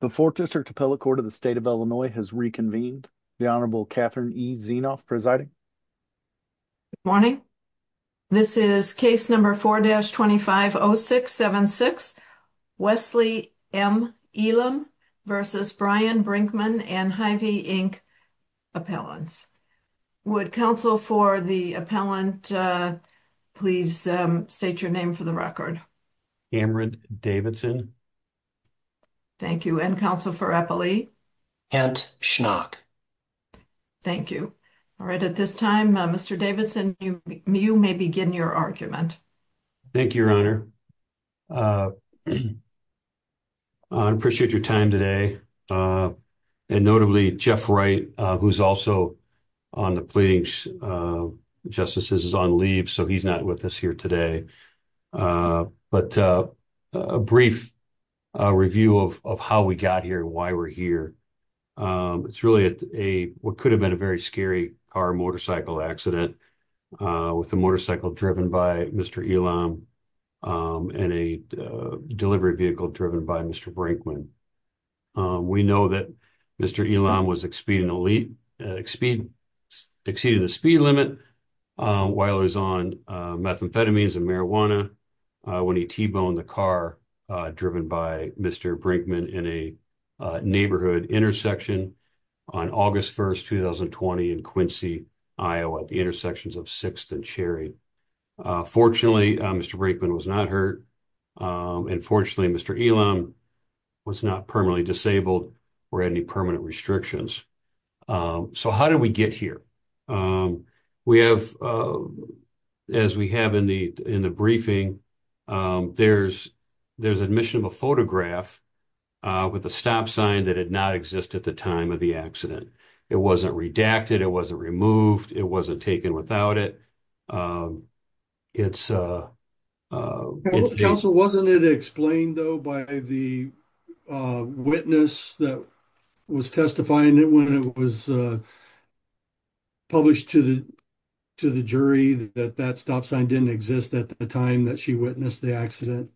The fourth district appellate court of the state of Illinois has reconvened. The Honorable Catherine E. Zienoff presiding. Good morning. This is case number 4-250676, Wesley M. Elam v. Brian Brinkman and Hy-Vee Inc. Appellants. Would counsel for the appellant please state your name for the record. Cameron Davidson. Thank you. And counsel for appellee? Kent Schnock. Thank you. All right. At this time, Mr. Davidson, you may begin your argument. Thank you, Your Honor. I appreciate your time today. And notably, Jeff Wright, who's also on the pleading for justice is on leave. So he's not with us here today. But a brief review of how we got here, why we're here. It's really a what could have been a very scary car motorcycle accident with a motorcycle driven by Mr. Elam and a delivery vehicle driven by Mr. Brinkman. We know that Mr. Elam was exceeding the speed limit while he was on methamphetamines and marijuana when he t-boned the car driven by Mr. Brinkman in a neighborhood intersection on August 1st, 2020 in Quincy, Iowa at the intersections of 6th and Cherry. Fortunately, Mr. Brinkman was not hurt. Unfortunately, Mr. Elam was not permanently disabled or any permanent restrictions. So how did we get here? As we have in the briefing, there's admission of a photograph with a stop sign that did not exist at the time of the accident. It wasn't redacted. It wasn't removed. It wasn't taken without it. It's a council wasn't it explained though by the witness that was testifying that when it was published to the to the jury that that stop sign didn't exist at the time that she witnessed the accident?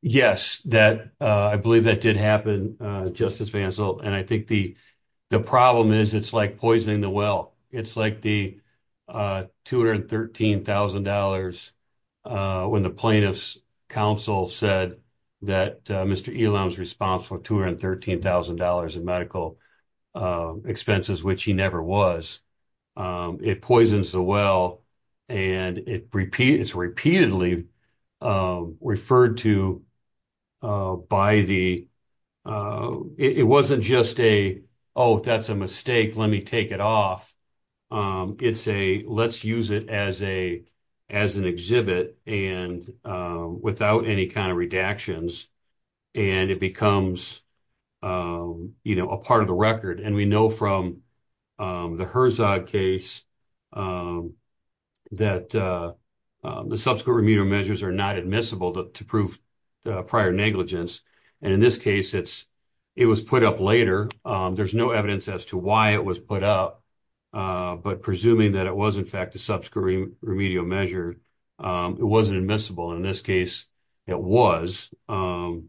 Yes, that I believe that did happen, Justice Vansel. And I think the problem is it's like poisoning the well. It's like the $213,000 when the plaintiff's counsel said that Mr. Elam's responsible $213,000 in medical expenses, which he never was. It poisons the well. And it's repeatedly referred to by the it wasn't just a, oh, that's a mistake. Let me take it off. It's a let's use it as a as an exhibit and without any kind of redactions. And it becomes, you know, a part of the record. And we know from the Herzog case that the subsequent remedial measures are not admissible to prove prior negligence. And in this case, it's it was put up later. There's no evidence as to why it was put up. But presuming that it was, in fact, a subsequent remedial measure, it wasn't admissible. And in this case, it was. And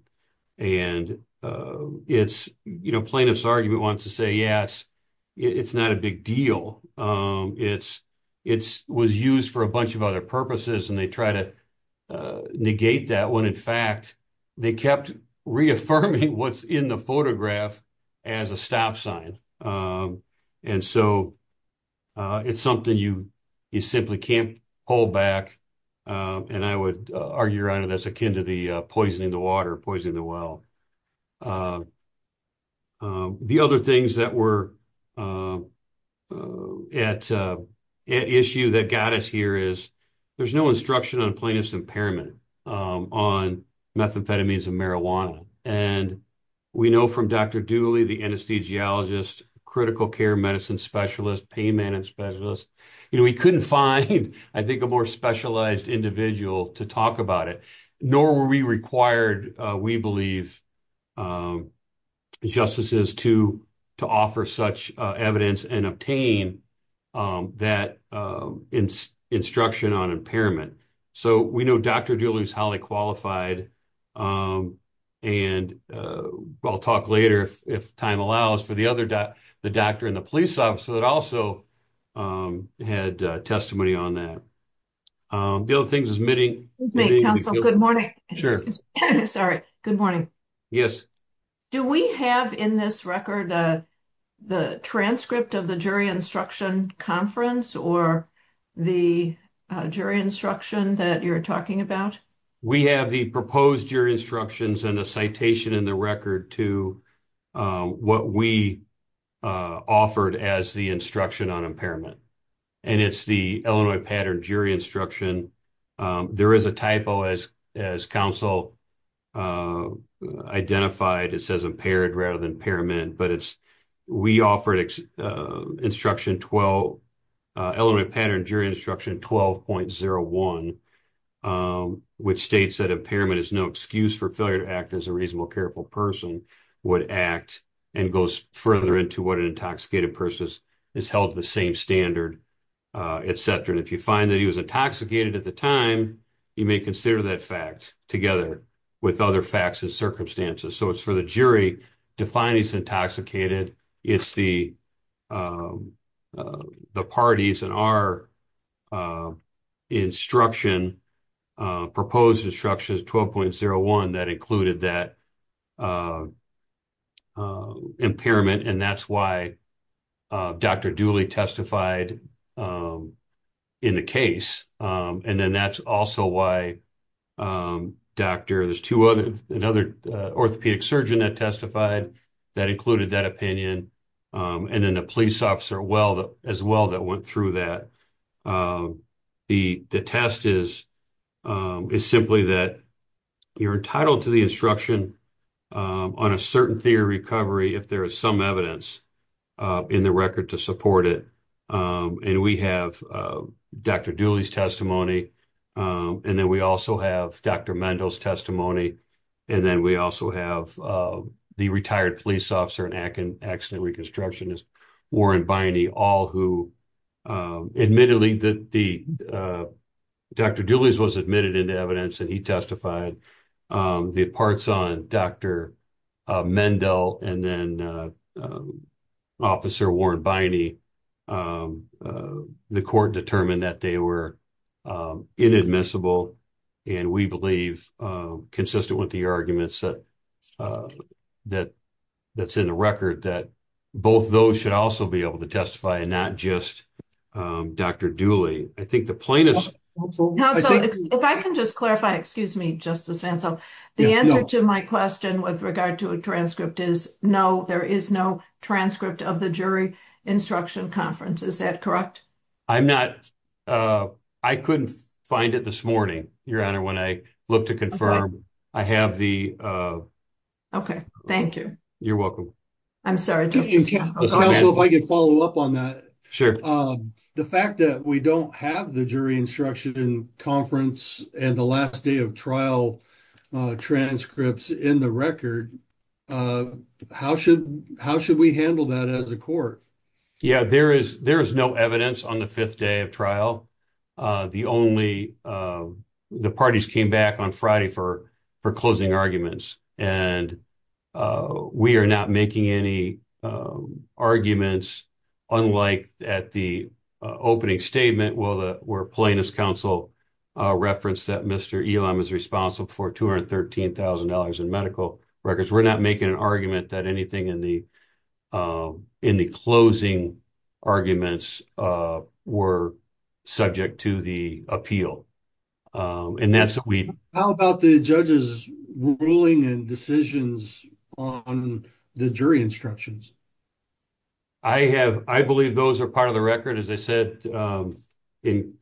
it's, you know, plaintiff's argument wants to say, yes, it's not a big deal. It's it's was used for a bunch of other purposes. And they try to negate that when, in fact, they kept reaffirming what's in the photograph as a stop sign. And so it's something you you simply can't hold back. And I would argue around it as akin to the poisoning, the water poisoning, the well. The other things that were at issue that got us here is there's no instruction on plaintiff's impairment on methamphetamines and marijuana. And we know from Dr. Dooley, the anesthesiologist, critical care medicine specialist, pain management specialist, we couldn't find, I think, a more specialized individual to talk about it, nor were we required, we believe, justices to to offer such evidence and obtain that instruction on impairment. So we know Dr. Dooley is highly qualified. And I'll talk later, if time allows, for the other, the doctor and the police officer that also had testimony on that. The other things is meeting. Good morning. Sure. Sorry. Good morning. Yes. Do we have in this record the transcript of the jury instruction conference or the jury instruction that you're talking about? We have the proposed jury instructions and a citation in the record to what we offered as the instruction on impairment. And it's the Illinois pattern jury instruction. There is a typo as as counsel identified. It says impaired rather than impairment. But it's we offered instruction 12 Illinois pattern jury instruction 12.01, which states that impairment is no excuse for failure to act as a reasonable, careful person would act and goes further into what an intoxicated person is held to the same standard, et cetera. And if you find that he was intoxicated at the time, you may consider that fact together with other facts and circumstances. So it's for the jury to find he's intoxicated. It's the the parties and our instruction, proposed instructions 12.01 that included that impairment. And that's why Dr. Dooley testified in the case. And then that's also why Dr. There's two other another orthopedic surgeon that testified that included that opinion. And then the police officer. Well, as well, that went through that. The test is is simply that you're entitled to the instruction on a certain theory recovery if there is some evidence in the record to support it. And we have Dr. Dooley's testimony. And then we also have Dr. Mendel's testimony. And then we also have the retired police officer and accident reconstruction is Warren Biney, all who admittedly that the Dr. Dooley's was evidence that he testified the parts on Dr. Mendel and then officer Warren Biney. The court determined that they were inadmissible. And we believe, consistent with the arguments that that's in the record that both those should also be able to testify and not just Dr. Dooley. I think the plaintiffs. If I can just clarify, excuse me, Justice Fentzel, the answer to my question with regard to a transcript is no, there is no transcript of the jury instruction conference. Is that correct? I'm not. I couldn't find it this morning. Your Honor, when I look to confirm I have the. OK, thank you. You're welcome. I'm sorry, Justice. If I could follow up on that. Sure. The fact that we don't have the jury instruction conference and the last day of trial transcripts in the record. How should how should we handle that as a court? Yeah, there is there is no evidence on the fifth day of trial. The only the parties came back on Friday for for closing arguments. And we are not making any arguments unlike at the opening statement. Well, the plaintiff's counsel referenced that Mr. Elam is responsible for $213,000 in medical records. We're not making an argument that anything in the in the closing arguments were subject to the appeal. And that's instructions. I have. I believe those are part of the record, as I said in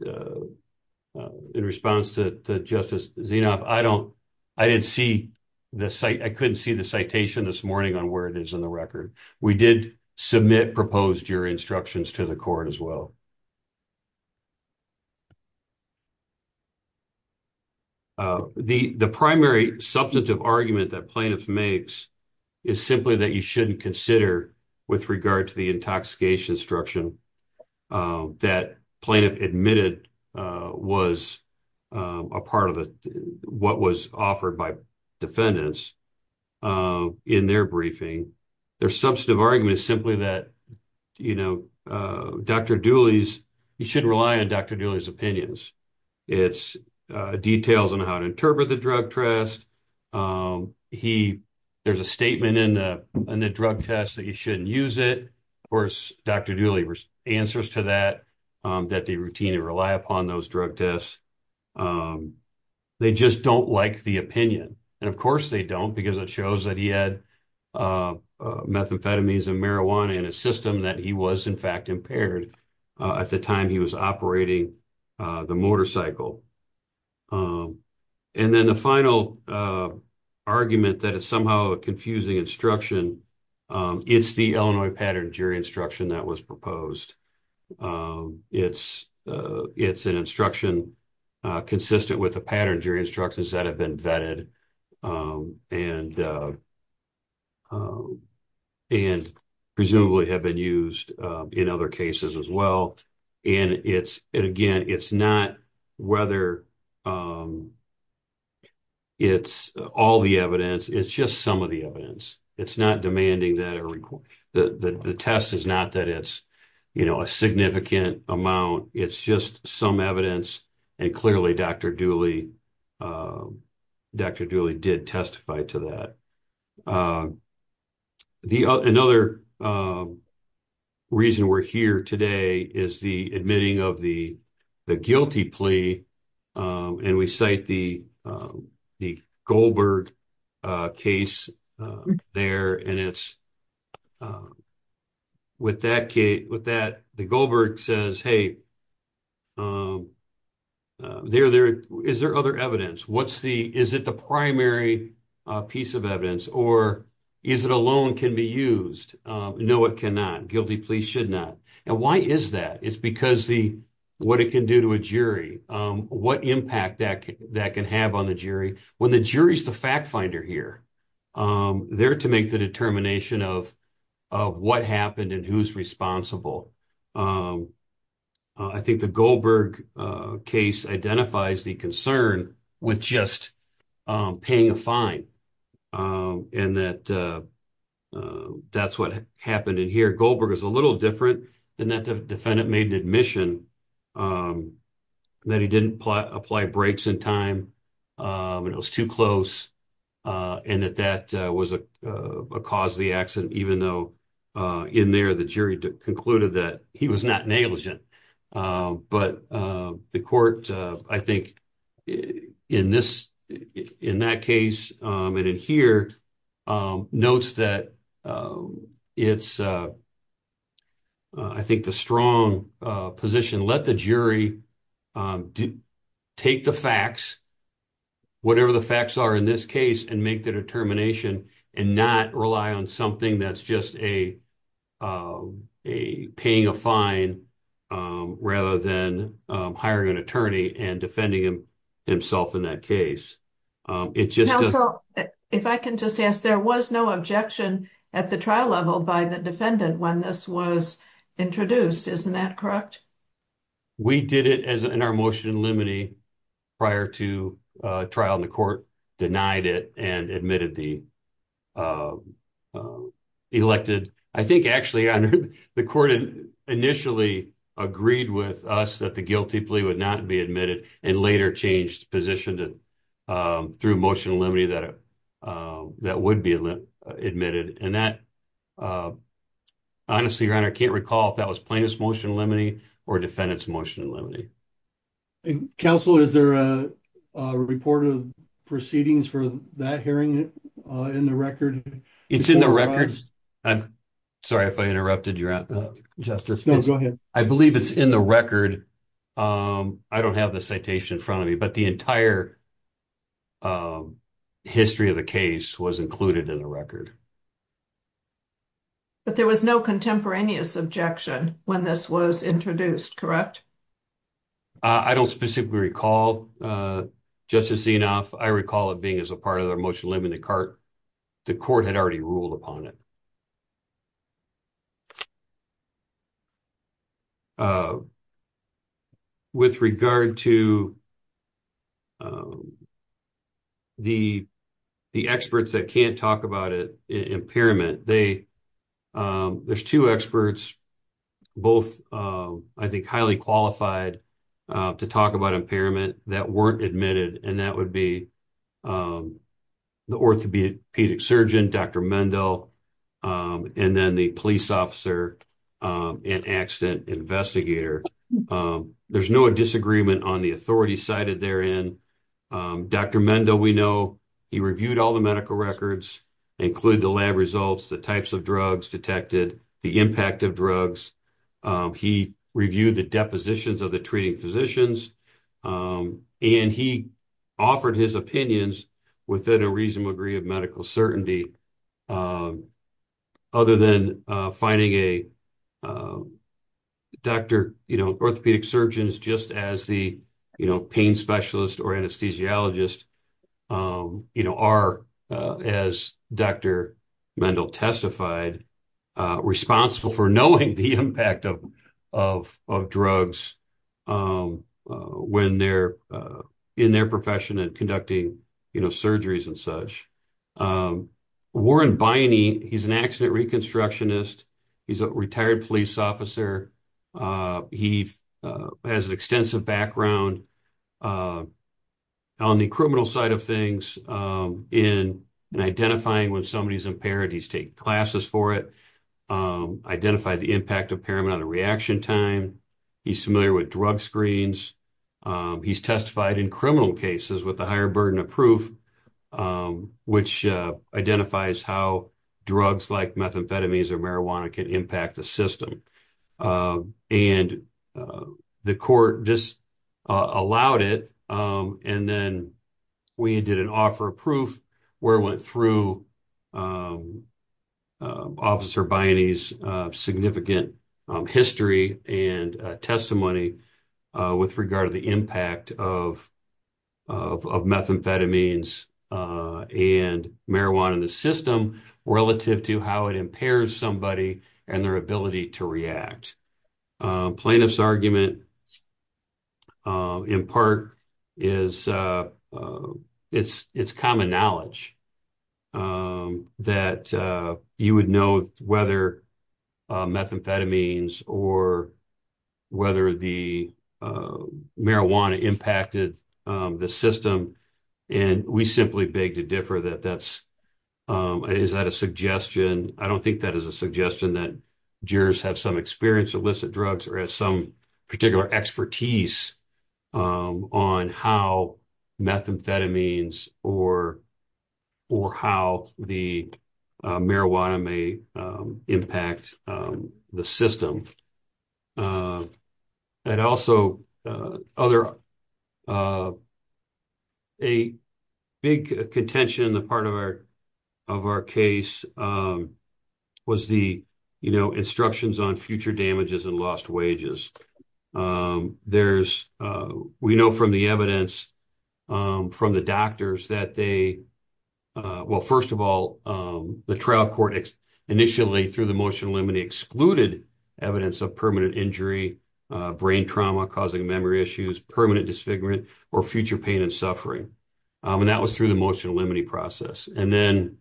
in response to Justice Zinoff. I don't I didn't see the site. I couldn't see the citation this morning on where it is in the record. We did submit proposed your instructions to the court as well. The primary substantive argument that plaintiff makes is simply that you shouldn't consider with regard to the intoxication instruction that plaintiff admitted was a part of what was offered by defendants in their briefing. Their substantive argument is simply that, you know, Dr. Dooley's you shouldn't rely on Dr. Dooley's opinions. It's details on how to interpret the drug test. There's a statement in the drug test that you shouldn't use it. Of course, Dr. Dooley answers to that, that they routinely rely upon those drug tests. They just don't like the opinion. And of course they don't because it shows that he had methamphetamines and marijuana in his system, that he was in fact impaired at the time he was operating the motorcycle. And then the final argument that is somehow a confusing instruction, it's the Illinois pattern jury instruction that was proposed. It's an instruction consistent with the pattern jury instructions that have been vetted and and presumably have been used in other cases as well. And it's, and again, it's not whether it's all the evidence, it's just some of the evidence. It's not demanding that the test is not that it's, you know, a significant amount. It's just some evidence and clearly Dr. Dooley did testify to that. Another reason we're here today is the admitting of the guilty plea. And we cite the Goldberg case there and it's with that case, with that, the Goldberg says, hey, is there other evidence? What's the, is it the primary piece of evidence or is it alone can be used? No, it cannot. Guilty plea should not. And why is that? It's because what it can do to a jury, what impact that can have on the jury. When the jury's the fact finder here, they're to make the determination of what happened and who's responsible. I think the Goldberg case identifies the concern with just paying a fine and that that's what happened in here. Goldberg is a little different than that defendant made an admission that he didn't apply breaks in time and it was too close. And that that was a cause of the concluded that he was not negligent. But the court, I think in this, in that case and in here notes that it's, I think the strong position, let the jury take the facts, whatever the facts are in this case and make the determination and not rely on something that's just a a paying a fine rather than hiring an attorney and defending himself in that case. It just, if I can just ask, there was no objection at the trial level by the defendant when this was introduced, isn't that correct? We did it as in our motion limine prior to trial in the court, denied it and admitted the elected. I think actually under the court initially agreed with us that the guilty plea would not be admitted and later changed position to through motion limine that that would be admitted. And that honestly your honor, I can't recall if that was plaintiff's motion limine or defendant's motion limine. Counsel, is there a report of proceedings for that hearing in the record? It's in the records. I'm sorry if I interrupted your justice. No, go ahead. I believe it's in the record. I don't have the citation in front of me, but the entire history of the case was included in the record. But there was no contemporaneous objection when this was introduced, correct? I don't specifically recall, Justice Zinoff. I recall it being as a part of their motion limine. The court had already ruled upon it. With regard to the experts that can't talk about it, impairment, there's two experts, both I think highly qualified to talk about impairment that weren't admitted and that would be the orthopedic surgeon, Dr. Mendel, and then the police officer and accident investigator. There's no disagreement on the authority cited therein. Dr. Mendel, we know, he reviewed all the medical records, included the lab results, the types of drugs detected, the impact of drugs. He reviewed the depositions of the treating physicians, and he offered his opinions within a reasonable degree of medical certainty. Other than finding a doctor, orthopedic surgeons, just as the pain specialist or anesthesiologist are, as Dr. Mendel testified, responsible for knowing the impact of drugs in their profession and conducting surgeries and such. Warren Biney, he's an accident reconstructionist. He's a retired police officer. He has an extensive background on the criminal side of things in identifying when somebody's impaired. He's taken classes for it, identified the impact of impairment on the reaction time. He's familiar with drug screens. He's testified in criminal cases with a higher burden of proof, which identifies how drugs like methamphetamines or marijuana can impact the system. And the court just allowed it, and then we did an offer of proof where it went through Officer Biney's significant history and testimony with regard to the impact of methamphetamines and marijuana in the system relative to how it impairs somebody and their ability to react. Plaintiff's argument in part is it's common knowledge that you would know whether methamphetamines or whether the marijuana impacted the system, and we simply beg to differ. Is that a suggestion? I don't think that is a suggestion that jurors have some experience with illicit drugs or have some particular expertise on how methamphetamines or how the marijuana may impact the system. And also, a big contention in the part of our case was the instructions on future damages and lost wages. We know from the evidence from the doctors that they, well, first of all, the trial court initially through the motion limine excluded evidence of permanent injury, brain trauma causing memory issues, permanent disfigurement, or future pain and suffering. And that was through the motion limine process. And then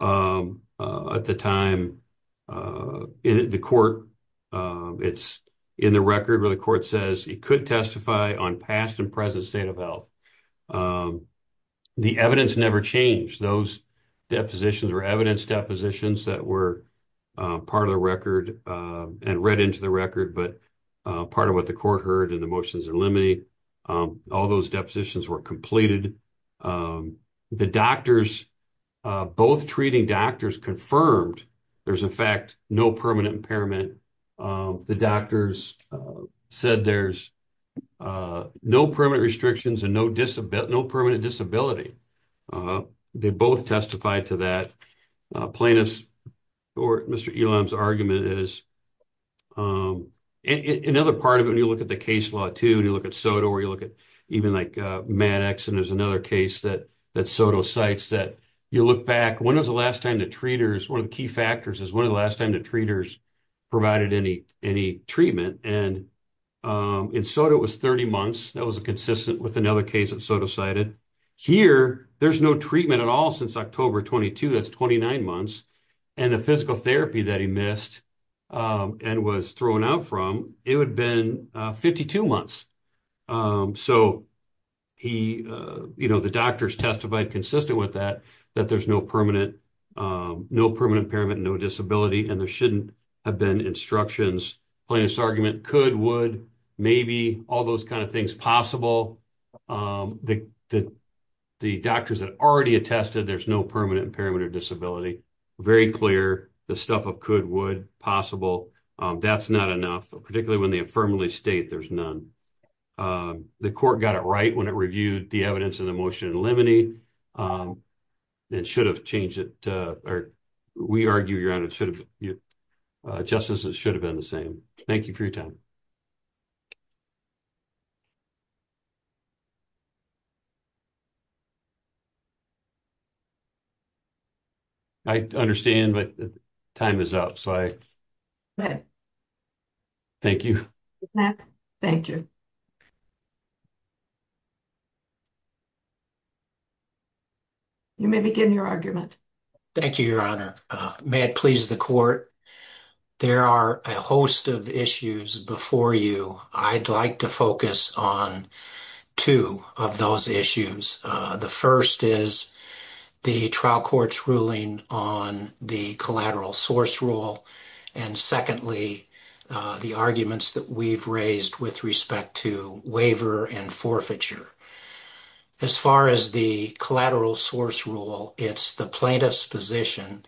at the time, the court, it's in the record where the court says it could testify on past and present state of health. And the evidence never changed. Those depositions were evidence depositions that were part of the record and read into the record, but part of what the court heard in the motions limine, all those depositions were completed. The doctors, both treating doctors confirmed there's in fact no permanent impairment. The doctors said there's no permanent restrictions and no permanent disability. They both testified to that plaintiff's or Mr. Elam's argument is. Another part of it, when you look at the case law too, and you look at SOTO or you look at even like Maddox, and there's another case that SOTO cites that you look back, when was the last time the treaters, one of the key factors is when was the last time the treaters provided any treatment? And in SOTO it was 30 months. That was consistent with another case that SOTO cited. Here, there's no treatment at all since October 22, that's 29 months. And the physical therapy that he missed and was thrown out from, it would have been 52 months. So, the doctors testified consistent with that, that there's no permanent impairment, no disability, and there shouldn't have been instructions, plaintiff's argument, could, would, maybe, all those kinds of things, possible. The doctors had already attested there's no permanent impairment or disability, very clear, the stuff of could, would, possible, that's not enough, particularly when they affirmatively state there's none. The court got it right when it reviewed the evidence in the motion and should have changed it, or we argue around it should have, justices should have been the same. Thank you for your time. I understand, but time is up, so I, thank you. Thank you. You may begin your argument. Thank you, Your Honor. May it please the court, there are a host of issues before you. I'd like to focus on two of those issues. The first is the trial court's ruling on the collateral source rule, and secondly, the arguments that we've raised with respect to waiver and forfeiture. As far as the collateral source rule, it's the plaintiff's position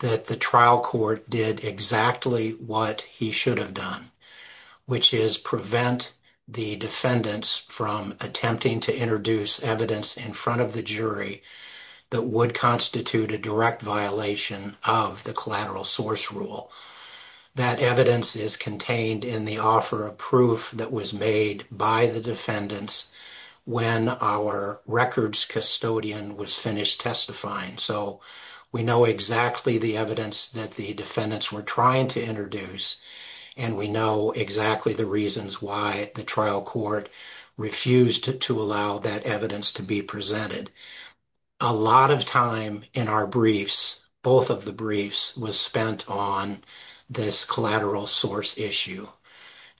that the trial court did exactly what he should have done, which is prevent the defendants from attempting to introduce evidence in front of the jury that would constitute a direct violation of the collateral source rule. That evidence is contained in the offer of proof that was made by the defendants when our records custodian was finished testifying, so we know exactly the evidence that the defendants were trying to introduce, and we know exactly the reasons why the trial court refused to allow that evidence to be presented. A lot of time in our briefs, both of the briefs, was spent on this collateral source issue.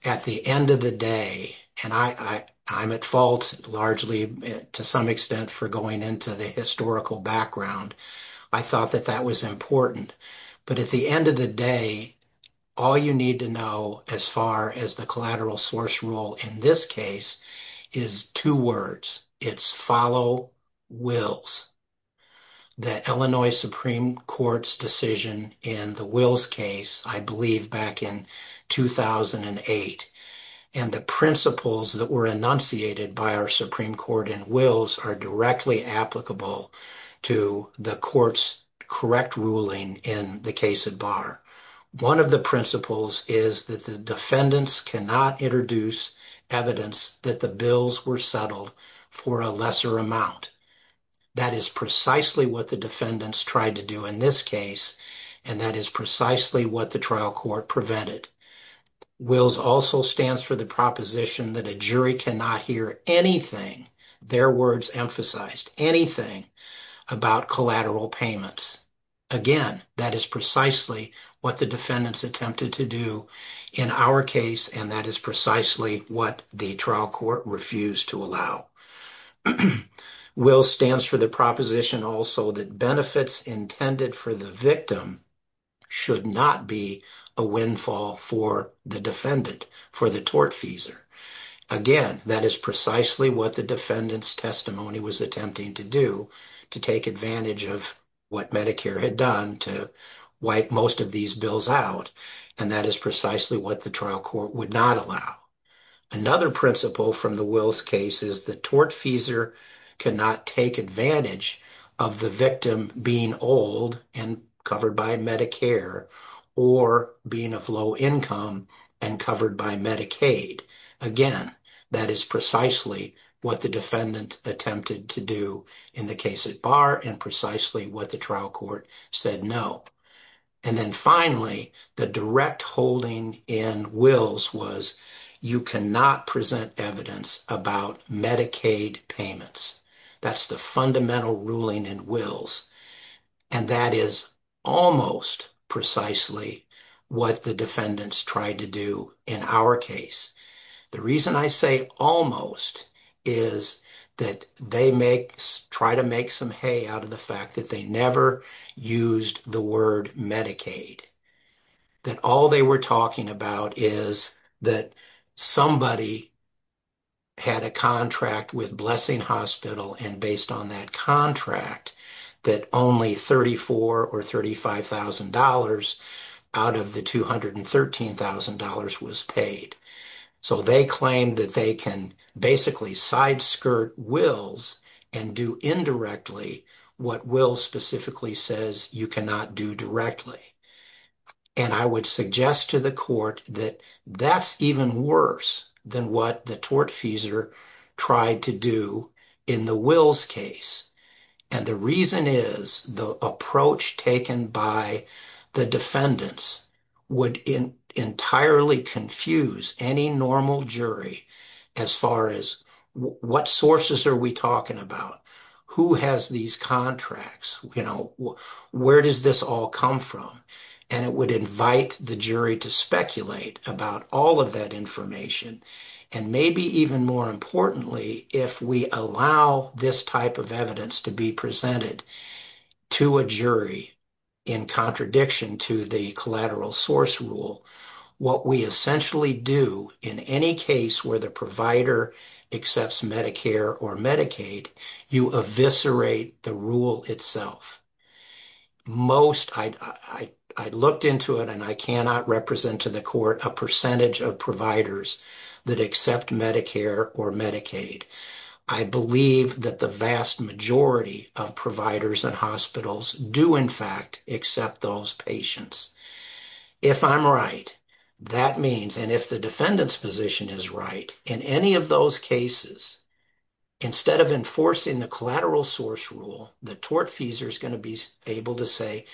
At the end of the day, and I'm at fault largely to some extent for going into the historical background, I thought that that was important, but at the end of the day, all you need to know as far as the collateral source rule in this case is two words. It's follow wills. The Illinois Supreme Court's decision in the Wills case, I believe back in 2008, and the principles that were enunciated by our Supreme Court in Wills are directly applicable to the court's correct ruling in the case at bar. One of the principles is that the defendants cannot introduce evidence that the bills were settled for a lesser amount. That is precisely what the defendants tried to do in this case, and that is precisely what the trial court prevented. Wills also stands for the proposition that a jury cannot hear anything, their words emphasized, anything about collateral payments. Again, that is precisely what the defendants attempted to do in our case, and that is precisely what the trial court refused to allow. Wills stands for the proposition also that benefits intended for the victim should not be a windfall for the defendant, for the tortfeasor. Again, that is precisely what the defendant's testimony was attempting to do, to take advantage of what Medicare had done to wipe most of these bills out, and that is precisely what the trial court would not allow. Another principle from the Wills case is the tortfeasor cannot take advantage of the victim being old and covered by Medicare, or being of low income and covered by Medicaid. Again, that is precisely what the defendant attempted to do in the case at bar, and precisely what the trial court said no. And then finally, the direct holding in Wills was you cannot present evidence about Medicaid payments. That's the fundamental ruling in Wills, and that is almost precisely what the defendants tried to do in our case. The reason I say almost is that they make, try to make some hay out of the fact that they never used the word Medicaid, that all they were talking about is that somebody had a contract with Blessing Hospital, and based on that contract, that only $34,000 or $35,000 out of the $213,000 was paid. So they claim that they can basically side skirt Wills and do indirectly what Wills specifically says you cannot do directly. And I would suggest to the court that that's even worse than what the court tried to do in the Wills case. And the reason is the approach taken by the defendants would entirely confuse any normal jury as far as what sources are we talking about? Who has these contracts? Where does this all come from? And it would invite the jury to speculate about all of that information. And maybe even more importantly, if we allow this type of evidence to be presented to a jury in contradiction to the collateral source rule, what we essentially do in any case where the provider accepts Medicare or Medicaid, you eviscerate the rule itself. Most, I looked into it and I cannot represent to the court a percentage of providers that accept Medicare or Medicaid. I believe that the vast majority of providers and hospitals do in fact accept those patients. If I'm right, that means, and if the defendant's position is right, in any of those cases, instead of enforcing the collateral source rule, the tortfeasor is going to be able to say,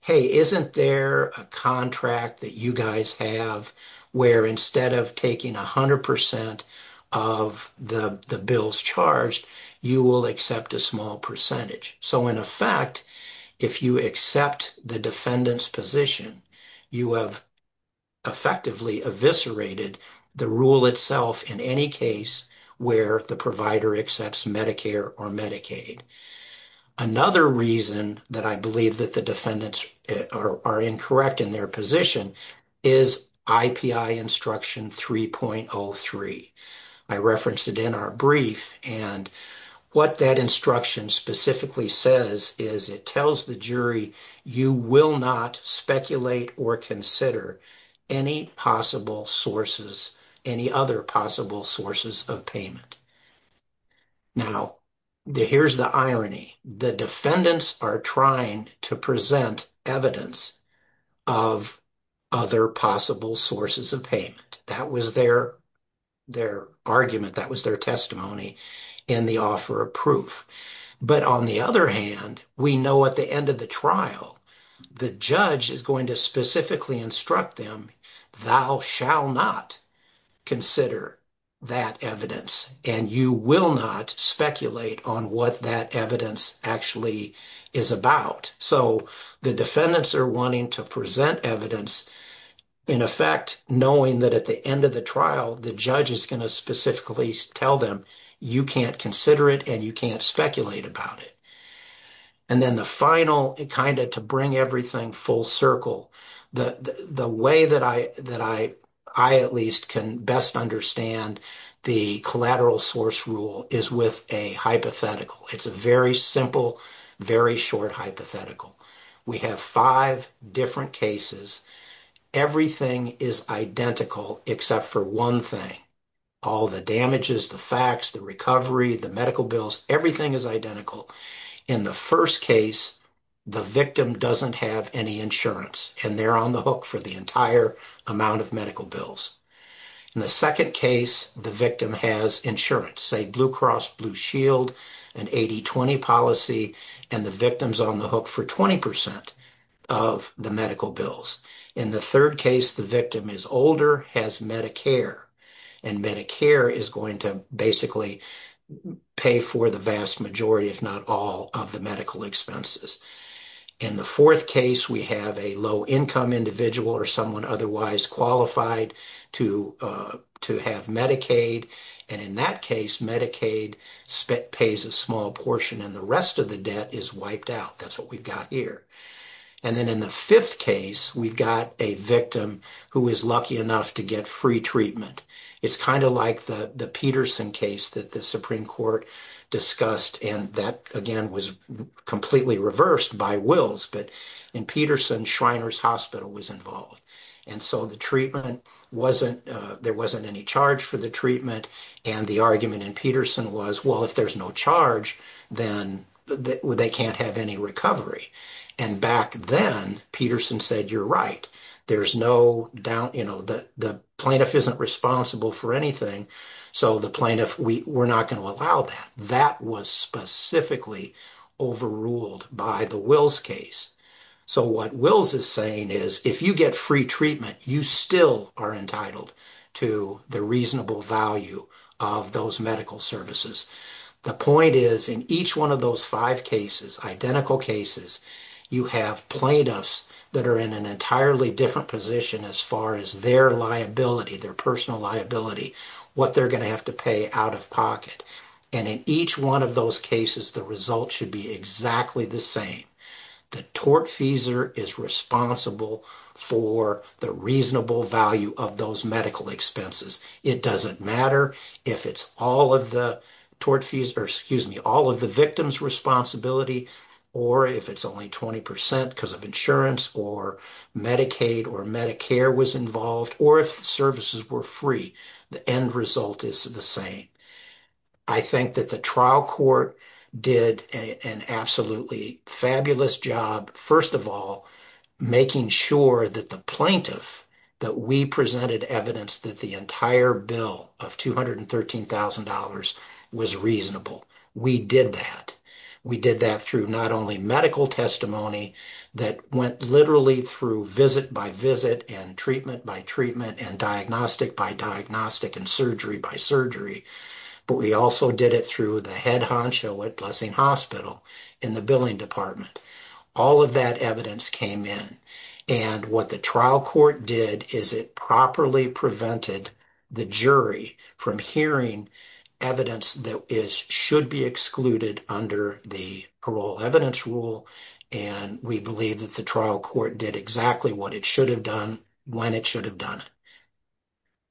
hey, isn't there a contract that you guys have where instead of taking 100% of the bills charged, you will accept a small percentage. So in effect, if you accept the defendant's position, you have effectively eviscerated the rule itself in any case where the provider accepts Medicare or Medicaid. Another reason that I believe that the defendants are incorrect in their position is IPI instruction 3.03. I referenced it in our brief and what that instruction specifically says is it tells the jury you will not speculate or consider any possible sources, any other possible sources of payment. Now, here's the irony, the defendants are trying to present evidence of other possible sources of payment. That was their their argument, that was their testimony in the offer of proof. But on the other hand, we know at the end of the trial, the judge is going to specifically instruct them, thou shall not consider that evidence and you will not speculate on what that evidence actually is about. So the defendants are wanting to present evidence in effect, knowing that at the end of the trial, the judge is going to specifically tell them, you can't consider it and you can't speculate about it. And then the final, kind of to bring everything full circle, the way that I at least can best understand the collateral source rule is with a hypothetical. It's a very simple, very short hypothetical. We have five different cases, everything is identical except for one thing, all the damages, the facts, the recovery, the medical bills, everything is identical. In the first case, the victim doesn't have any insurance and they're on the hook for the entire amount of medical bills. In the second case, the victim has insurance, say Blue Cross Blue Shield, an 80-20 policy, and the victim's on hook for 20% of the medical bills. In the third case, the victim is older, has Medicare, and Medicare is going to basically pay for the vast majority, if not all, of the medical expenses. In the fourth case, we have a low-income individual or someone otherwise qualified to have Medicaid, and in that case, Medicaid pays a small portion and the rest of the debt is wiped out. That's what we've got here. And then in the fifth case, we've got a victim who is lucky enough to get free treatment. It's kind of like the Peterson case that the Supreme Court discussed, and that, again, was completely reversed by wills, but in Peterson, Shriners Hospital was involved. And so the treatment wasn't, there wasn't any charge for the treatment, and the argument in Peterson was, well, if there's no charge, then they can't have any recovery. And back then, Peterson said, you're right, there's no doubt, you know, the plaintiff isn't responsible for anything, so the plaintiff, we're not going to allow that. That was specifically overruled by the wills case. So what wills is saying is, if you get free treatment, you still are entitled to the reasonable value of those medical services. The point is, in each one of those five cases, identical cases, you have plaintiffs that are in an entirely different position as far as their liability, their personal liability, what they're going to have to pay out of pocket. And in each one of those cases, the result should be exactly the same. The tortfeasor is responsible for the reasonable value of those medical expenses. It doesn't matter if it's all of the tortfeasor, excuse me, all of the victim's responsibility, or if it's only 20% because of insurance, or Medicaid, or Medicare was involved, or if the services were free, the end result is the same. I think that the trial court did an absolutely fabulous job, first of all, making sure that the plaintiff, that we presented evidence that the entire bill of $213,000 was reasonable. We did that. We did that through not only medical testimony that went literally through visit by visit, and treatment by treatment, and diagnostic by diagnostic, and surgery by surgery, but we also did it through the head honcho at Blessing Hospital in the billing department. All of that evidence came in. And what the trial court did is it properly prevented the jury from hearing evidence that should be excluded under the parole evidence rule. And we believe that the trial court did exactly what it should have done when it should have done it.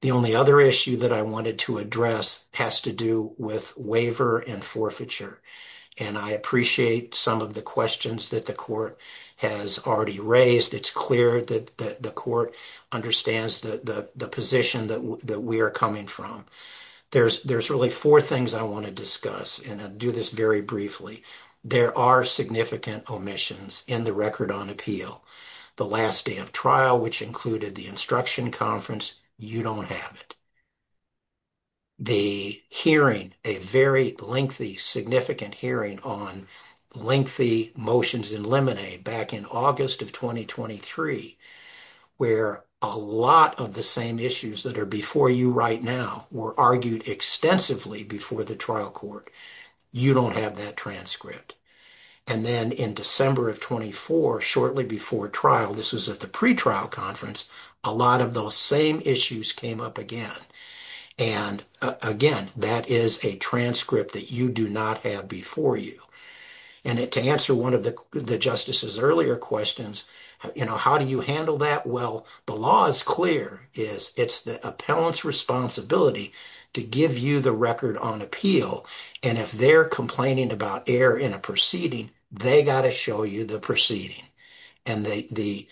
The only other issue that I wanted to address has to do with waiver and forfeiture. And I appreciate some of the questions that the court has already raised. It's clear that the court understands the position that we are coming from. There's really four things I want to discuss, and I'll do this very briefly. There are significant omissions in the record on appeal. The last day of trial, which included the instruction conference, you don't have it. The hearing, a very lengthy, significant hearing on lengthy motions in limine back in August of 2023, where a lot of the same issues that are before you right now were argued extensively before the trial court. You don't have that transcript. And then in December of 2024, shortly before trial, this was at the pretrial conference, a lot of those same issues came up again. And again, that is a transcript that you do not have before you. And to answer one of the justices' earlier questions, how do you handle that? Well, the law is clear. It's the appellant's responsibility to give you the record on appeal. And if they're complaining about error in a proceeding, they got to show you the proceeding. And the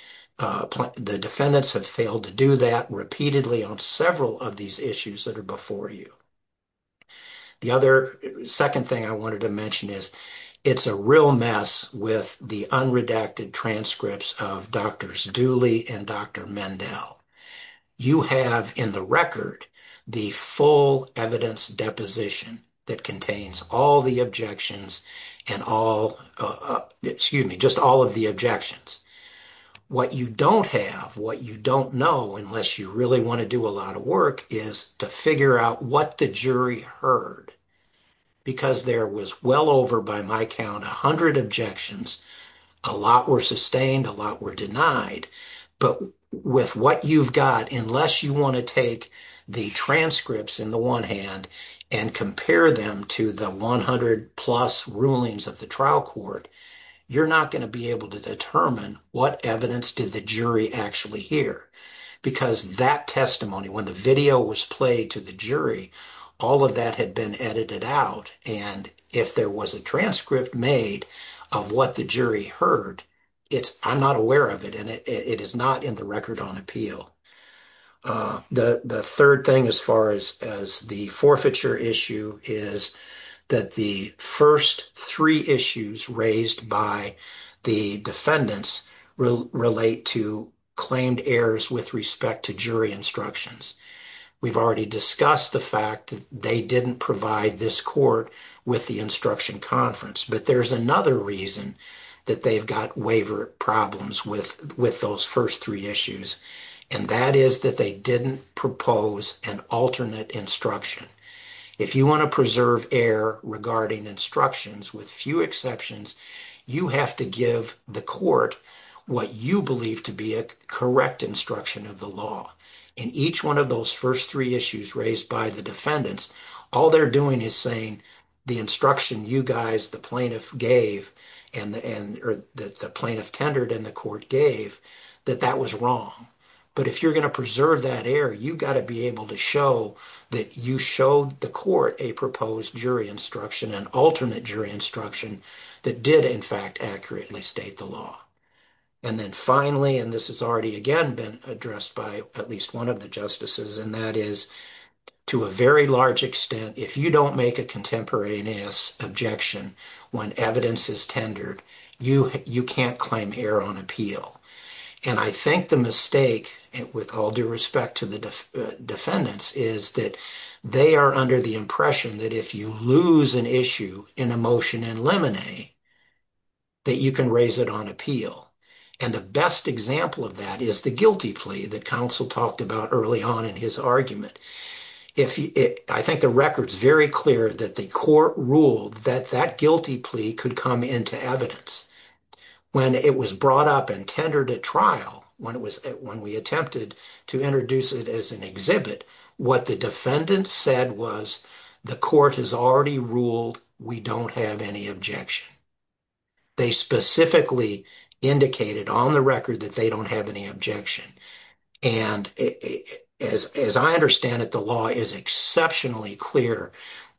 defendants have failed to do that repeatedly on several of these issues that are before you. The other second thing I wanted to mention is it's a real mess with the unredacted transcripts of Drs. Dooley and Dr. Mendel. You have in the record the full evidence deposition that contains all the objections and all, excuse me, just all of the objections. What you don't have, what you don't know, unless you really want to do a lot of work, is to figure out what the jury heard. Because there was well over, by my count, a hundred objections. A lot were sustained, a lot were denied. But with what you've got, unless you want to take the transcripts in the one hand and compare them to the 100 plus rulings of the trial court, you're not going to be able to determine what evidence did the jury actually hear. Because that testimony, when the video was played to the jury, all of that had been edited out. And if there was a transcript made of what the jury heard, I'm not aware of it. And it is not in the record on appeal. The third thing as far as the forfeiture issue is that the first three issues raised by the defendants relate to claimed errors with respect to jury instructions. We've already discussed the fact that they didn't provide this court with the instruction conference. But there's another reason that they've got waiver problems with those first three issues. And that is that they didn't propose an alternate instruction. If you want to preserve air regarding instructions, with few exceptions, you have to give the court what you believe to be a correct instruction of the law. In each one of those first three issues raised by the defendants, all they're doing is saying the instruction you guys, the plaintiff gave, and the plaintiff tendered and the court gave, that that was wrong. But if you're going to preserve that air, you got to be able to show that you showed the court a proposed jury instruction, an alternate jury instruction that did in fact accurately state the law. And then finally, and this has already again been addressed by at least one of the justices, and that is to a very large extent, if you don't make a contemporaneous objection when evidence is tendered, you can't claim error on appeal. And I think the mistake, with all due respect to the defendants, is that they are under the impression that if you lose an issue in a motion in limine, that you can raise it on appeal. And the best example of that is the guilty plea that counsel talked about early on in his argument. I think the record's very clear that the court ruled that that guilty plea could come into evidence. When it was brought up and tendered at trial, when we attempted to introduce it as an exhibit, what the defendant said was, the court has already ruled we don't have any objection. They specifically indicated on the as I understand it, the law is exceptionally clear.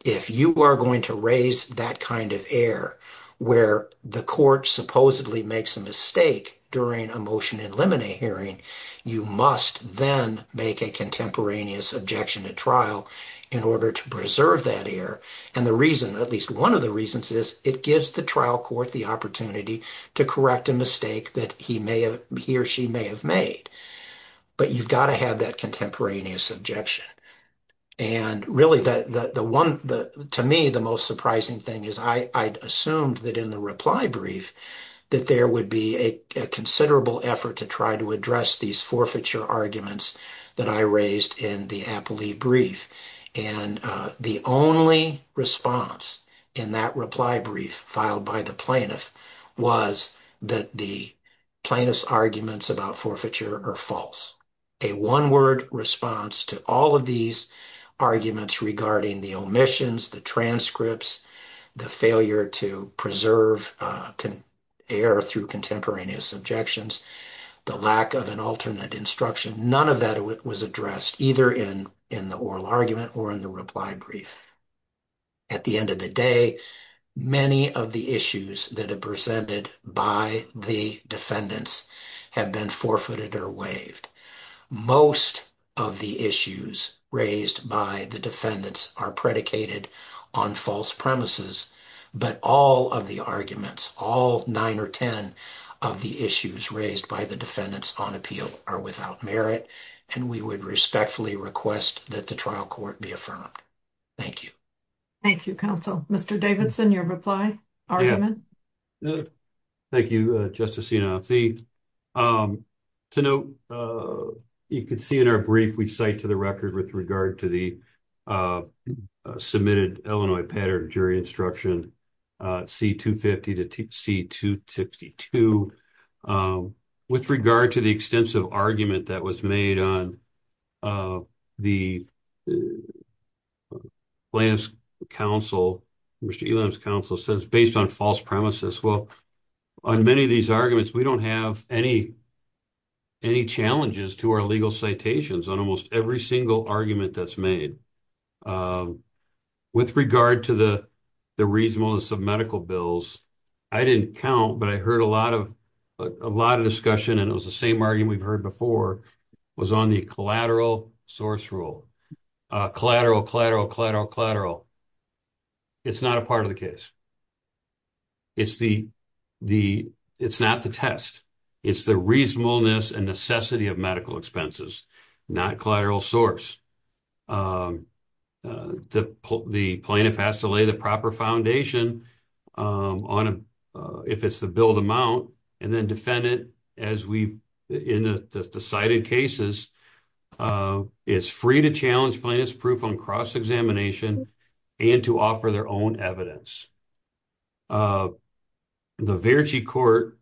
If you are going to raise that kind of error where the court supposedly makes a mistake during a motion in limine hearing, you must then make a contemporaneous objection at trial in order to preserve that error. And the reason, at least one of the reasons, is it gives the trial court the opportunity to correct a mistake that he or she may have made. But you've got to have that contemporaneous objection. And really, to me, the most surprising thing is I assumed that in the reply brief that there would be a considerable effort to try to address these forfeiture arguments that I raised in the appellee brief. And the only response in that reply brief filed by the plaintiff was that the plaintiff's arguments about forfeiture are false. A one-word response to all of these arguments regarding the omissions, the transcripts, the failure to preserve error through contemporaneous objections, the lack of an alternate instruction, none of that was addressed either in the oral argument or in the reply brief. At the end of the day, many of the issues that are presented by the defendants have been forfeited or waived. Most of the issues raised by the defendants are predicated on false premises, but all of the arguments, all nine or ten of the issues raised by the defendants on appeal are without merit, and we would respectfully request that the trial court be affirmed. Thank you. Thank you, counsel. Mr. Davidson, your reply argument? Thank you, Justice Enos. To note, you can see in our brief we cite to the record with regard to the submitted Illinois pattern jury instruction C-250 to C-262. With regard to the extensive argument that was made on the plaintiff's counsel, Mr. Elam's counsel says based on false premises, well, on many of these arguments, we don't have any challenges to our legal citations on almost every single argument that's made. With regard to the reasonableness of medical bills, I didn't count, but I heard a lot of discussion, and it was the same argument we've heard before, was on the collateral source rule. Collateral, collateral, collateral, collateral. It's not a part of the case. It's not the test. It's the reasonableness and necessity of medical it's the bill to mount and then defend it as we in the decided cases. It's free to challenge plaintiff's proof on cross-examination and to offer their own evidence. The Verchie court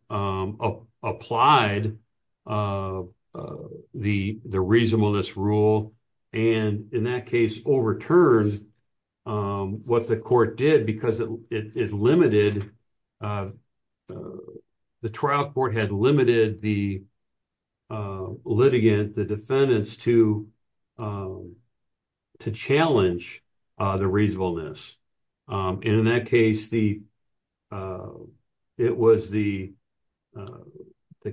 applied the reasonableness rule and in that case overturned what the court did because it limited the trial court had limited the litigant, the defendants to challenge the reasonableness. And in that case, it was the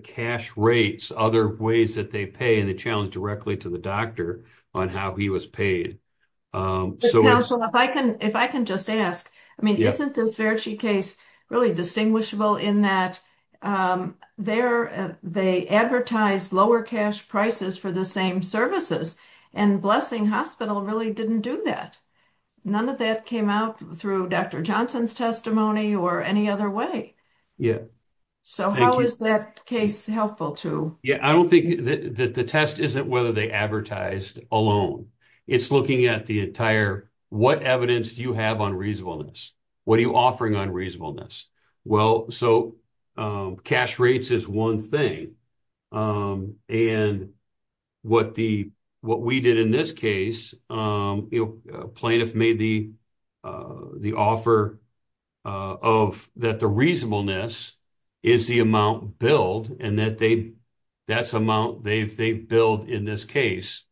cash rates, other ways that they pay and the challenge directly to the doctor on how he was paid. So if I can just ask, I mean, isn't this Verchie case really distinguishable in that they advertised lower cash prices for the same services and Blessing Hospital really didn't do that. None of that came out through Dr. Johnson's testimony or any other way. So how is that case helpful to? Yeah, I don't think that the test isn't whether they advertised alone. It's looking at the entire what evidence do you have on reasonableness? What are you offering on reasonableness? Well, so cash rates is one thing. And what we did in this case, plaintiff made the offer of that the reasonableness is the amount billed and that's amount they billed in this case.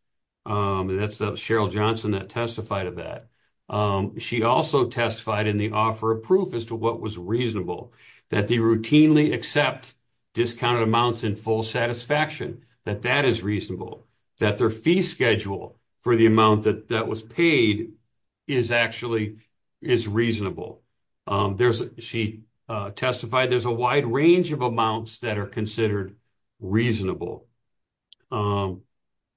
That's Cheryl Johnson that testified of that. She also testified in the offer of proof as to what was reasonable, that they routinely accept discounted amounts in full satisfaction, that that is reasonable, that their fee schedule for the amount that was paid is actually is reasonable. She testified there's a wide range of amounts that are considered reasonable.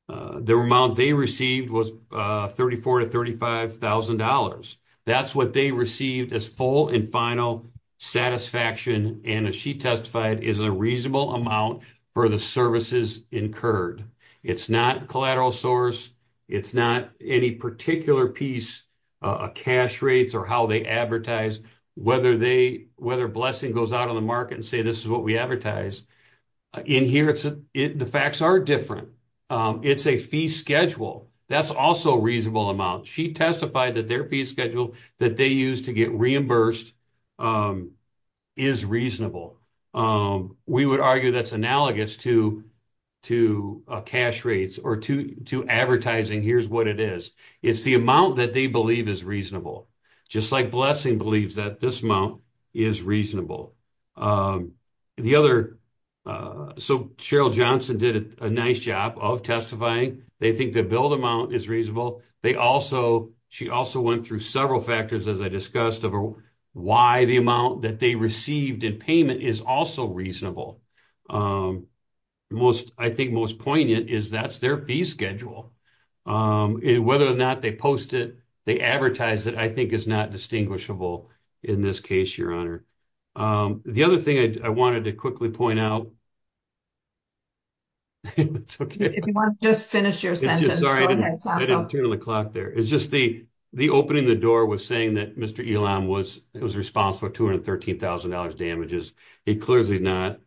The amount they received was $34,000 to $35,000. That's what they received as full and final satisfaction and as she testified is a reasonable amount for the services incurred. It's not collateral source. It's not any particular piece of cash rates or how they advertise whether they whether Blessing goes out on the market and say this is what we advertise. In here, the facts are different. It's a fee schedule. That's also a reasonable amount. She testified that their fee schedule that they use to get reimbursed is reasonable. We would argue that's analogous to cash rates or to advertising. Here's what it is. It's the amount that they believe is reasonable just like Blessing believes that this amount is reasonable. The other, so Cheryl Johnson did a nice job of testifying. They think the billed amount is reasonable. They also, she also went through several factors as I discussed of why the amount that they received in payment is also reasonable. Most, I think most poignant is that's their fee schedule. Whether or not they post it, they advertise it, I think is not distinguishable in this case, Your Honor. The other thing I wanted to quickly point out, it's okay. If you want to just finish your sentence. Sorry, I didn't turn on the clock there. It's just the opening the door was saying that Mr. Elam was responsible for $213,000 damages. He clearly is not.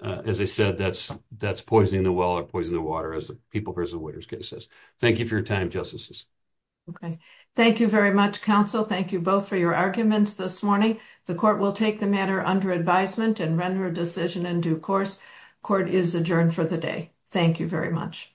As I said, that's poisoning the well or poisoning the water, as the People vs. Waiters case says. Thank you for your time, Justices. Okay. Thank you very much, Counsel. Thank you both for your arguments this morning. The Court will take the matter under advisement and render a decision in due course. Court is adjourned for the day. Thank you very much.